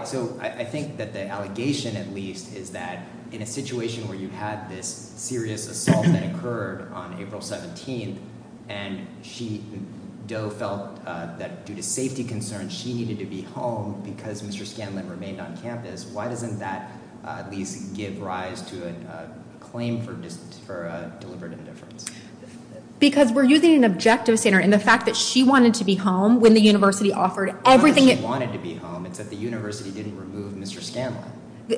So I think that the allegation, at least, is that in a situation where you had this serious assault that occurred on April 17th and Doe felt that due to safety concerns, she needed to be home because Mr. Scanlon remained on campus, why doesn't that at least give rise to a claim for deliberate indifference? Because we're using an objective standard. And the fact that she wanted to be home when the university offered everything... It's not that she wanted to be home. It's that the university didn't remove Mr. Scanlon.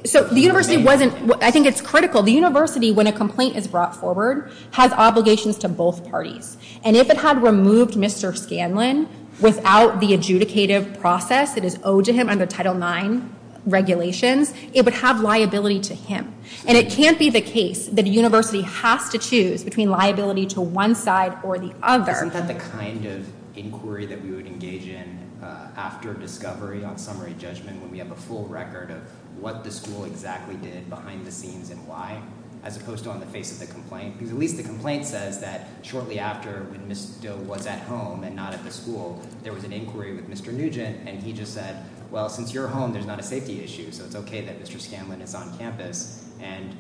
So the university wasn't... I think it's critical. The university, when a complaint is brought forward, has obligations to both parties. If it had removed Mr. Scanlon without the adjudicative process that is owed to him under Title IX regulations, it would have liability to him. And it can't be the case that a university has to choose between liability to one side or the other. Isn't that the kind of inquiry that we would engage in after discovery on summary judgment when we have a full record of what the school exactly did behind the scenes and why, as opposed to on the face of the complaint? Because at least the complaint says that shortly after when Ms. Doe was at home and not at the school, there was an inquiry with Mr. Nugent. And he just said, well, since you're home, there's not a safety issue. So it's okay that Mr. Scanlon is on campus. And,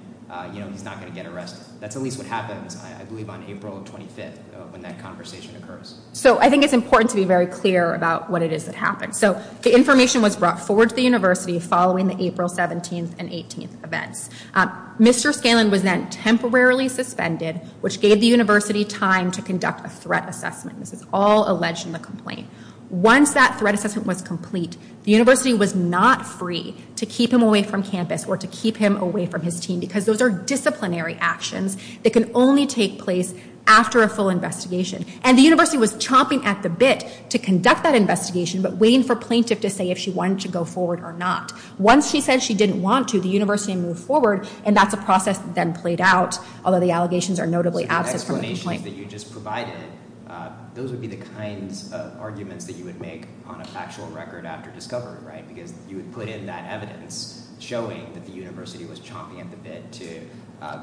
you know, he's not going to get arrested. That's at least what happens, I believe, on April 25th when that conversation occurs. So I think it's important to be very clear about what it is that happened. So the information was brought forward to the university following the April 17th and 18th events. Mr. Scanlon was then temporarily suspended, which gave the university time to conduct a threat assessment. This is all alleged in the complaint. Once that threat assessment was complete, the university was not free to keep him away from campus or to keep him away from his team because those are disciplinary actions that can only take place after a full investigation. And the university was chomping at the bit to conduct that investigation, but waiting for plaintiff to say if she wanted to go forward or not. Once she said she didn't want to, the university moved forward, and that's a process that then played out, although the allegations are notably absent from the complaint. So the explanations that you just provided, those would be the kinds of arguments that you would make on a factual record after discovery, right? Because you would put in that evidence showing that the university was chomping at the bit to...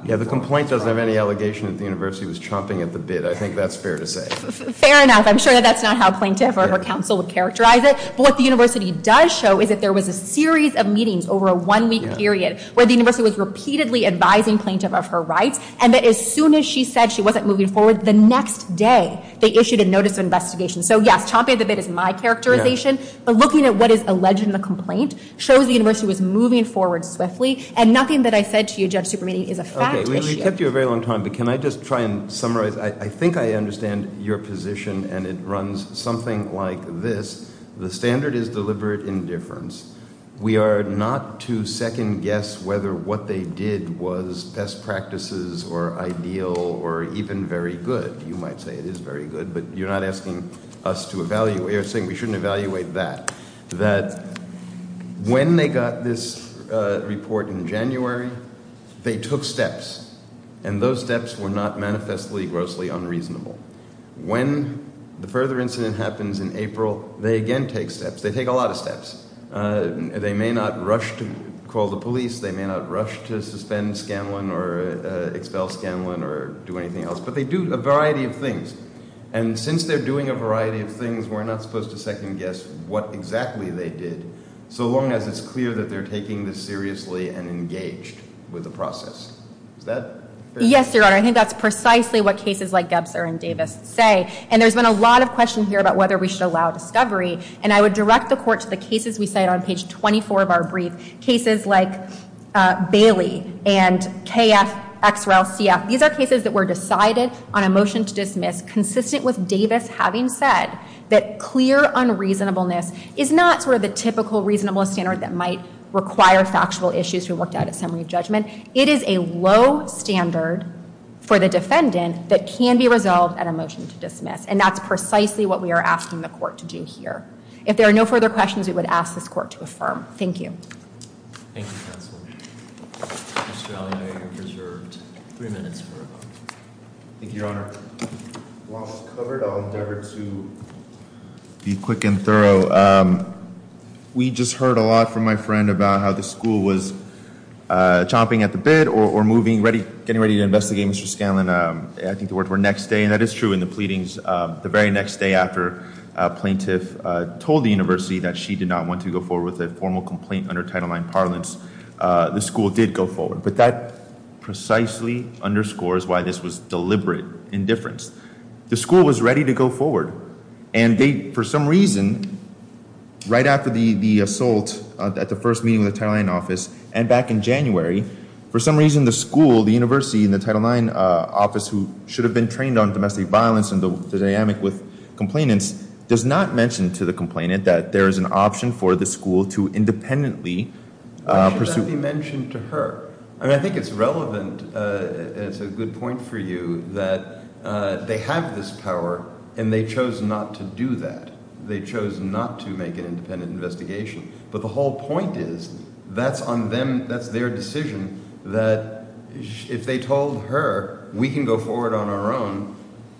Yeah, the complaint doesn't have any allegation that the university was chomping at the bit. I think that's fair to say. Fair enough. I'm sure that that's not how plaintiff or her counsel would characterize it. But what the university does show is that there was a series of meetings over a one-week period where the university was repeatedly advising plaintiff of her rights, and that as soon as she said she wasn't moving forward, the next day they issued a notice of investigation. So yes, chomping at the bit is my characterization, but looking at what is alleged in the complaint shows the university was moving forward swiftly, and nothing that I said to you, Judge Supermeeting, is a fact issue. We kept you a very long time, but can I just try and summarize? I think I understand your position, and it runs something like this. The standard is deliberate indifference. We are not to second-guess whether what they did was best practices or ideal or even very good. You might say it is very good, but you're not asking us to evaluate or saying we shouldn't evaluate that. That when they got this report in January, they took steps, and those steps were not manifestly grossly unreasonable. When the further incident happens in April, they again take steps. They take a lot of steps. They may not rush to call the police. They may not rush to suspend Scanlon or expel Scanlon or do anything else, but they do a variety of things, and since they're doing a variety of things, we're not supposed to second-guess what exactly they did so long as it's clear that they're taking this seriously and engaged with the process. Is that fair? Yes, Your Honor. I think that's precisely what cases like Gebser and Davis say, and there's been a lot of question here about whether we should allow discovery, and I would direct the court to the cases we cite on page 24 of our brief, cases like Bailey and KF, XREL, CF. These are cases that were decided on a motion to dismiss, consistent with Davis having said that clear unreasonableness is not sort of the typical reasonable standard that might require factual issues who worked out a summary judgment. It is a low standard for the defendant that can be resolved at a motion to dismiss, and that's precisely what we are asking the court to do here. If there are no further questions, we would ask this court to affirm. Thank you. Thank you, counsel. Mr. Allen, you have three minutes. Thank you, Your Honor. While it's covered, I'll endeavor to be quick and thorough. We just heard a lot from my friend about how the school was chomping at the bit or getting ready to investigate Mr. Scanlon. I think the words were next day, and that is true in the pleadings. The very next day after a plaintiff told the university that she did not want to go forward with a formal complaint under Title IX parlance, the school did go forward. But that precisely underscores why this was deliberate indifference. The school was ready to go forward, and they, for some reason, right after the assault at the first meeting of the Title IX office and back in January, for some reason, the school, the university, and the Title IX office, who should have been trained on domestic violence and the dynamic with complainants, does not mention to the complainant that there is an option for the school to independently pursue- Why should that be mentioned to her? I mean, I think it's relevant, and it's a good point for you, that they have this power, and they chose not to do that. They chose not to make an independent investigation. But the whole point is, that's on them, that's their decision, that if they told her, we can go forward on our own,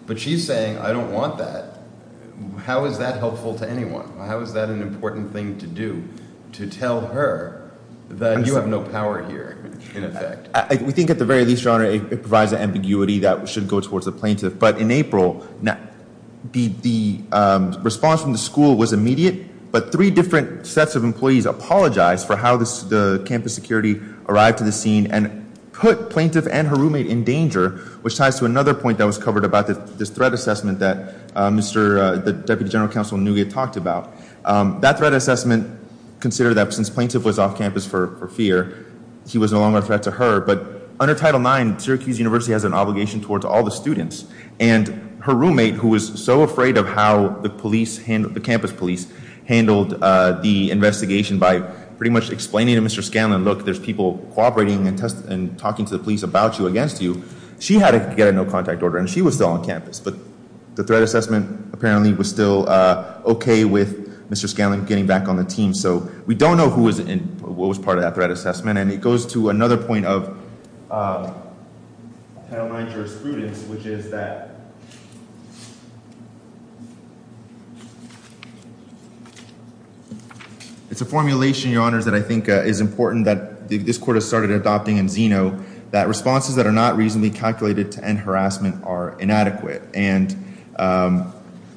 but she's saying, I don't want that. How is that helpful to anyone? How is that an important thing to do? To tell her that you have no power here, in effect. We think, at the very least, Your Honor, it provides an ambiguity that should go towards the plaintiff. But in April, the response from the school was immediate, but three different sets of employees apologized for how the campus security arrived to the scene, and put plaintiff and her roommate in danger, which ties to another point that was covered about this threat assessment that Deputy General Counsel Nguyet talked about. That threat assessment considered that since plaintiff was off campus for fear, he was no longer a threat to her. But under Title IX, Syracuse University has an obligation towards all the students, and her roommate, who was so afraid of how the campus police handled the investigation by pretty much explaining to Mr. Scanlon, look, there's people cooperating and talking to the police about you, against you. She had to get a no contact order, and she was still on campus. But the threat assessment, apparently, was still okay with Mr. Scanlon getting back on the team. So we don't know what was part of that threat assessment. And it goes to another point of Title IX jurisprudence, which is that it's a formulation, your honors, that I think is important that this court has started adopting in Zeno, that responses that are not reasonably calculated to end harassment are inadequate. And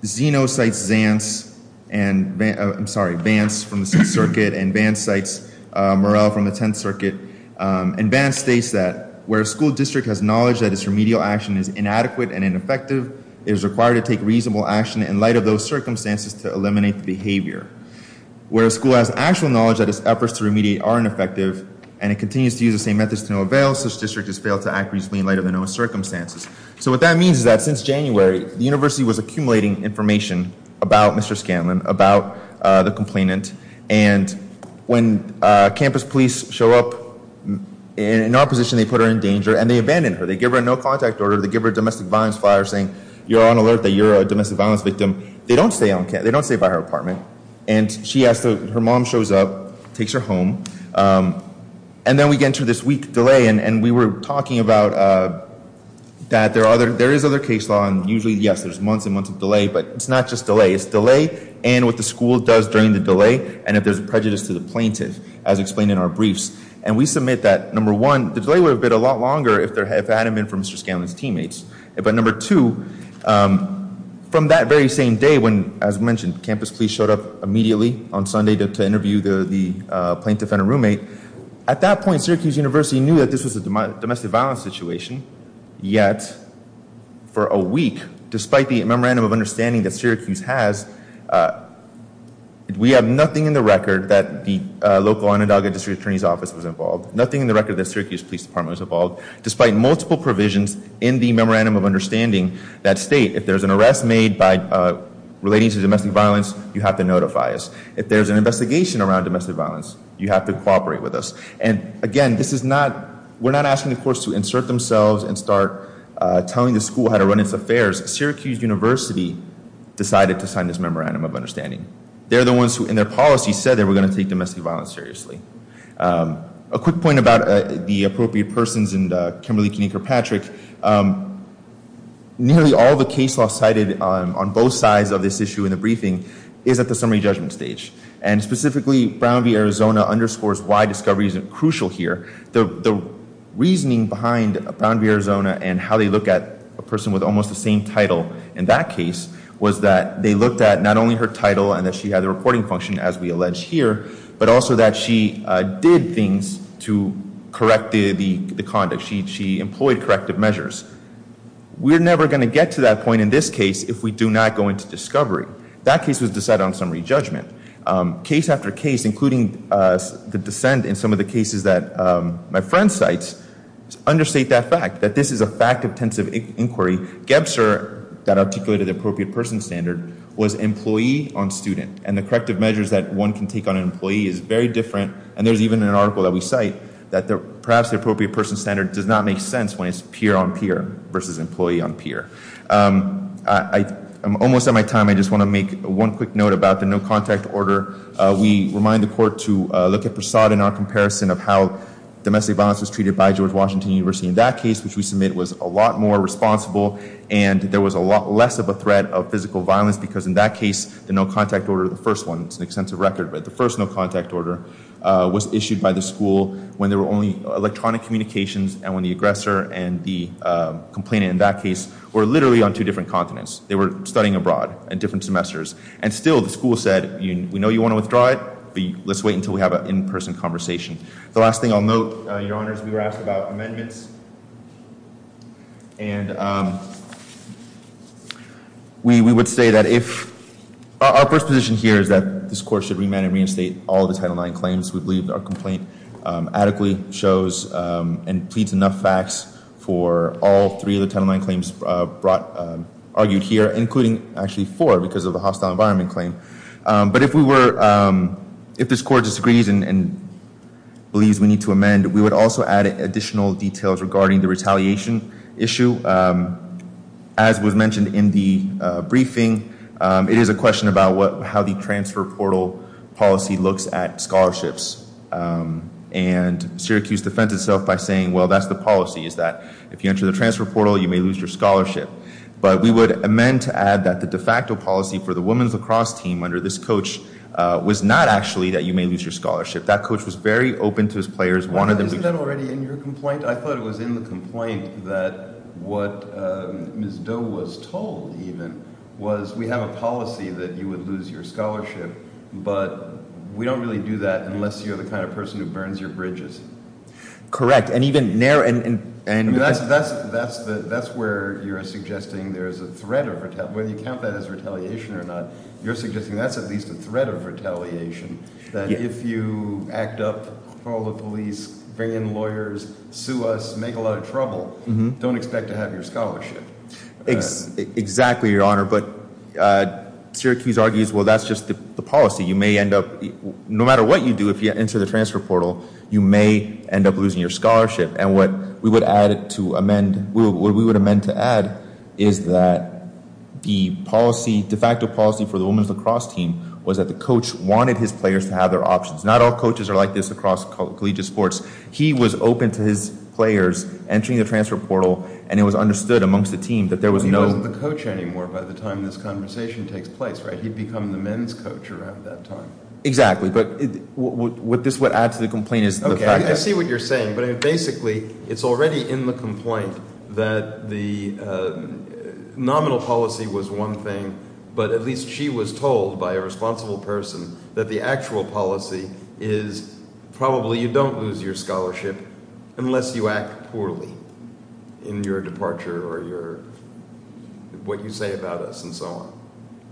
Zeno cites Zantz and, I'm sorry, Vance from the Sixth Circuit, and Vance cites Murrell from the Tenth Circuit. And Vance states that where a school district has knowledge that its remedial action is inadequate and ineffective, it is required to take reasonable action in light of those circumstances to eliminate the behavior. Where a school has actual knowledge that its efforts to remediate are ineffective, and it continues to use the same methods to no avail, such district has failed to act reasonably in light of the known circumstances. So what that means is that since January, the university was accumulating information about Mr. Scanlon, about the complainant. And when campus police show up in opposition, they put her in danger, and they abandon her. They give her a no contact order. They give her a domestic violence flyer saying, you're on alert that you're a domestic violence victim. They don't stay by her apartment. And she has to, her mom shows up, takes her home. And then we get into this week delay. And we were talking about that there is other case law. And usually, yes, there's months and months of delay. But it's not just delay. It's delay and what the school does during the delay, and if there's prejudice to the plaintiff, as explained in our briefs. And we submit that, number one, the delay would have been a lot longer if it hadn't been for Mr. Scanlon's teammates. But number two, from that very same day when, as mentioned, campus police showed up immediately on Sunday to interview the plaintiff and her roommate, at that point, Syracuse University knew that this was a domestic violence situation. Yet, for a week, despite the memorandum of understanding that Syracuse has, we have nothing in the record that the local Onondaga District Attorney's Office was involved, nothing in the record that Syracuse Police Department was involved, despite multiple provisions in the memorandum of understanding that state, if there's an arrest made by relating to domestic violence, you have to notify us. If there's an investigation around domestic violence, you have to cooperate with us. And again, this is not, we're not asking the courts to insert themselves and start telling the school how to run its affairs. Syracuse University decided to sign this memorandum of understanding. They're the ones who, in their policy, said they were going to take domestic violence seriously. A quick point about the appropriate persons and Kimberly Kinneker-Patrick, nearly all the case law cited on both sides of this issue in the briefing is at the summary judgment stage. And specifically, Brown v. Arizona underscores why discovery isn't crucial here. The reasoning behind Brown v. Arizona and how they look at a person with almost the same title in that case was that they looked at not only her title and that she had a reporting function, as we allege here, but also that she did things to correct the conduct. She employed corrective measures. We're never going to get to that point in this case if we do not go into discovery. That case was decided on summary judgment. Case after case, including the dissent in some of the cases that my friend cites, understate that fact, that this is a fact-intensive inquiry. Gebzer, that articulated the appropriate person standard, was employee on student. And the corrective measures that one can take on an employee is very different. And there's even an article that we cite that perhaps the appropriate person standard does not make sense when it's peer-on-peer versus employee-on-peer. I'm almost at my time. I just want to make one quick note about the no-contact order. We remind the court to look at Persaud in our comparison of how domestic violence was treated by George Washington University in that case, which we submit was a lot more responsible. And there was a lot less of a threat of physical violence, because in that case, the no-contact order, the first one, it's an extensive record, but the first no-contact order was issued by the school when there were only electronic communications, and when the aggressor and the complainant in that case were literally on two different continents. They were studying abroad in different semesters. And still, the school said, we know you want to withdraw it, but let's wait until we have an in-person conversation. The last thing I'll note, Your Honors, we were asked about amendments. And we would say that if our first position here is that this court should remand and reinstate all the Title IX claims. We believe our complaint adequately shows and pleads enough facts for all three of the Title IX claims brought, argued here, including actually four, because of the hostile environment claim. But if we were, if this court disagrees and believes we need to amend, we would also add additional details regarding the retaliation issue. As was mentioned in the briefing, it is a question about how the transfer portal policy looks at scholarships. And Syracuse defends itself by saying, well, that's the policy, is that if you enter the transfer portal, you may lose your scholarship. But we would amend to add that the de facto policy for the women's lacrosse team under this coach was not actually that you may lose your scholarship. That coach was very open to his players, wanted them to- Isn't that already in your complaint? I thought it was in the complaint that what Ms. Doe was told, even, was we have a policy that you would lose your scholarship, but we don't really do that unless you're the kind of person who burns your bridges. Correct. And even narrow- And that's where you're suggesting there's a threat of, whether you count that as retaliation or not, you're suggesting that's at least a threat of retaliation. That if you act up, call the police, bring in lawyers, sue us, make a lot of trouble, don't expect to have your scholarship. Exactly, Your Honor. But Syracuse argues, well, that's just the policy. No matter what you do, if you enter the transfer portal, you may end up losing your scholarship. And what we would amend to add is that the policy, de facto policy for the women's lacrosse team was that the coach wanted his players to have their options. Not all coaches are like this across collegiate sports. He was open to his players entering the transfer portal, and it was understood amongst the team that there was no- He wasn't the coach anymore by the time this conversation takes place, right? He'd become the men's coach around that time. Exactly, but what this would add to the complaint is- Okay, I see what you're saying, but basically, it's already in the complaint that the nominal policy was one thing, but at least she was told by a responsible person that the actual policy is probably you don't lose your scholarship unless you act poorly in your departure or what you say about us and so on.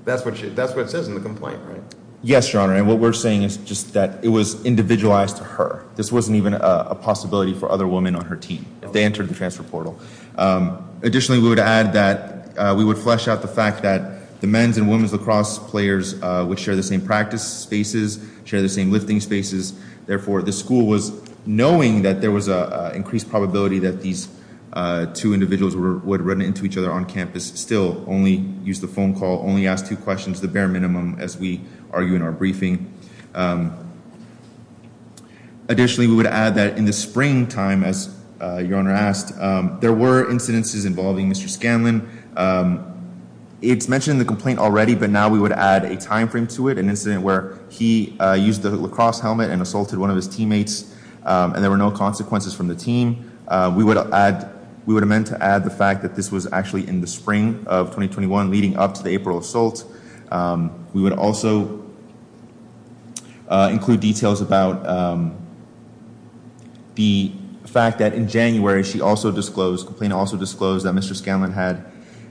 That's what it says in the complaint, right? Yes, Your Honor, and what we're saying is just that it was individualized to her. This wasn't even a possibility for other women on her team if they entered the transfer portal. Additionally, we would add that we would flesh out the fact that the men's and women's lacrosse players would share the same practice spaces, share the same lifting spaces. Therefore, the school was knowing that there was an increased probability that these two individuals would run into each other on campus, still only use the phone call, only ask two questions, the bare minimum as we argue in our briefing. Additionally, we would add that in the springtime, as Your Honor asked, there were incidences involving Mr. Scanlon. It's mentioned in the complaint already, but now we would add a time frame to it, an incident where he used the lacrosse helmet and assaulted one of his teammates and there were no consequences from the team. We would amend to add the fact that this was actually in the spring of 2021 leading up to the April assault. We would also include details about the fact that in January, complaint also disclosed that Mr. Scanlon had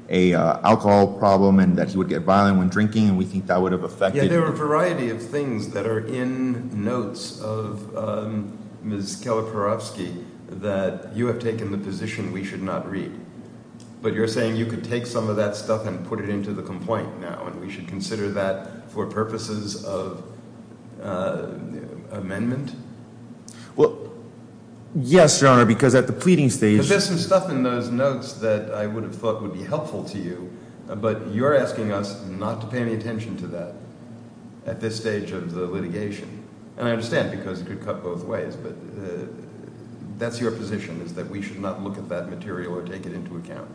a alcohol problem and that he would get violent when drinking and we think that would have affected. Yeah, there are a variety of things that are in notes of Ms. Kalaparovsky that you have taken the position we should not read. But you're saying you could take some of that stuff and put it into the complaint now and we should consider that for purposes of amendment? Well, yes, Your Honor, because at the pleading stage... There's some stuff in those notes that I would have thought would be helpful to you, but you're asking us not to pay any attention to that at this stage of the litigation and I understand because it could cut both ways, but that's your position is that we should not look at that material or take it into account.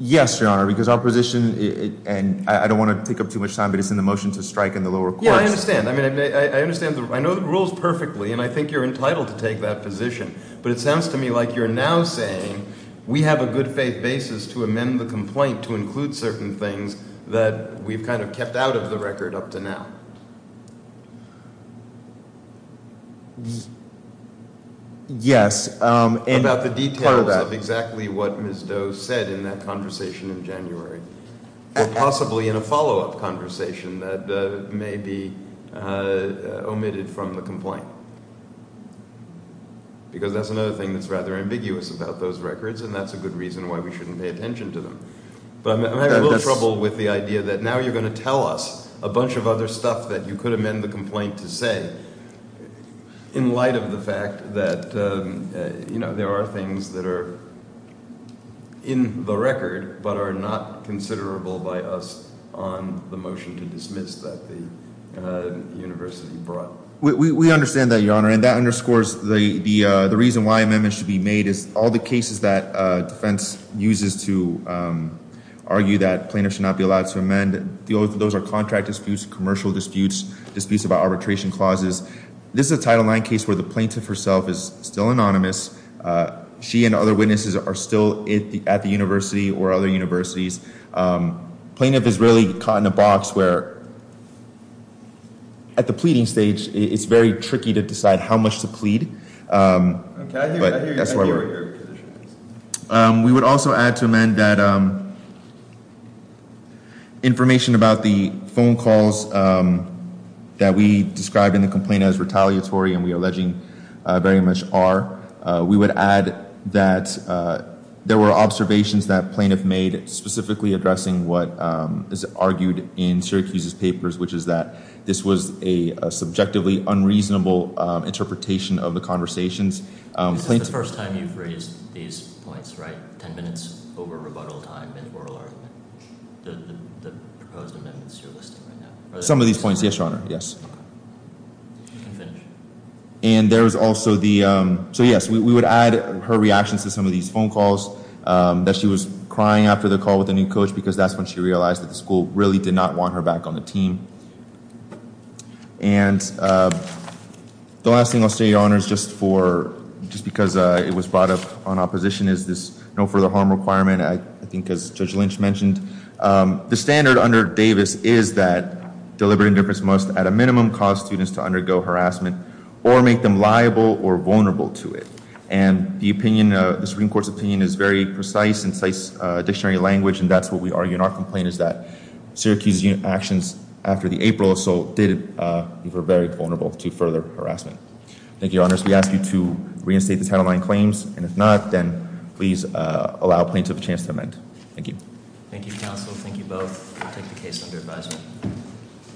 Yes, Your Honor, because our position and I don't want to take up too much time, but it's in the motion to strike in the lower courts. I understand. I know the rules perfectly and I think you're entitled to take that position, but it sounds to me like you're now saying we have a good faith basis to amend the complaint to include certain things that we've kind of kept out of the record up to now. Yes. About the details of exactly what Ms. Doe said in that conversation in January, but possibly in a follow-up conversation that may be omitted from the complaint. Because that's another thing that's rather ambiguous about those records and that's a good reason why we shouldn't pay attention to them. But I'm having a little trouble with the idea that now you're going to tell us a bunch of other stuff that you could amend the complaint to say in light of the fact that, you know, there are things that are in the record but are not considerable by us on the motion to dismiss that the university brought. We understand that, Your Honor, and that underscores the reason why amendments should be made is all the cases that defense uses to argue that plaintiffs should not be allowed to amend. Those are contract disputes, commercial disputes, disputes about arbitration clauses. This is a Title IX case where the plaintiff herself is still anonymous. She and other witnesses are still at the university or other universities. Plaintiff is really caught in a box where at the pleading stage it's very tricky to decide how much to plead. We would also add to amend that information about the phone calls that we described in the complaint as retaliatory, and we are alleging very much are. We would add that there were observations that plaintiff made specifically addressing what is argued in Syracuse's papers, which is that this was a subjectively unreasonable interpretation of the conversations. This is the first time you've raised these points, right? Ten minutes over rebuttal time and oral argument, the proposed amendments you're listing right now. Some of these points, yes, Your Honor. Yes. And there's also the, so yes, we would add her reactions to some of these phone calls that she was crying after the call with the new coach because that's when she realized that the school really did not want her back on the team. And the last thing I'll say, Your Honor, is just for, just because it was brought up on opposition, is this no further harm requirement. I think as Judge Lynch mentioned, the standard under Davis is that deliberate indifference must, at a minimum, cause students to undergo harassment or make them liable or vulnerable to it. And the opinion, the Supreme Court's opinion, is very precise and cites dictionary language, and that's what we argue in our complaint, is that Syracuse's actions after the April assault did leave her very vulnerable to further harassment. Thank you, Your Honors. We ask you to reinstate the title nine claims, and if not, then please allow plaintiff a chance to amend. Thank you. Thank you, counsel. Thank you both. I'll take the case under advisement.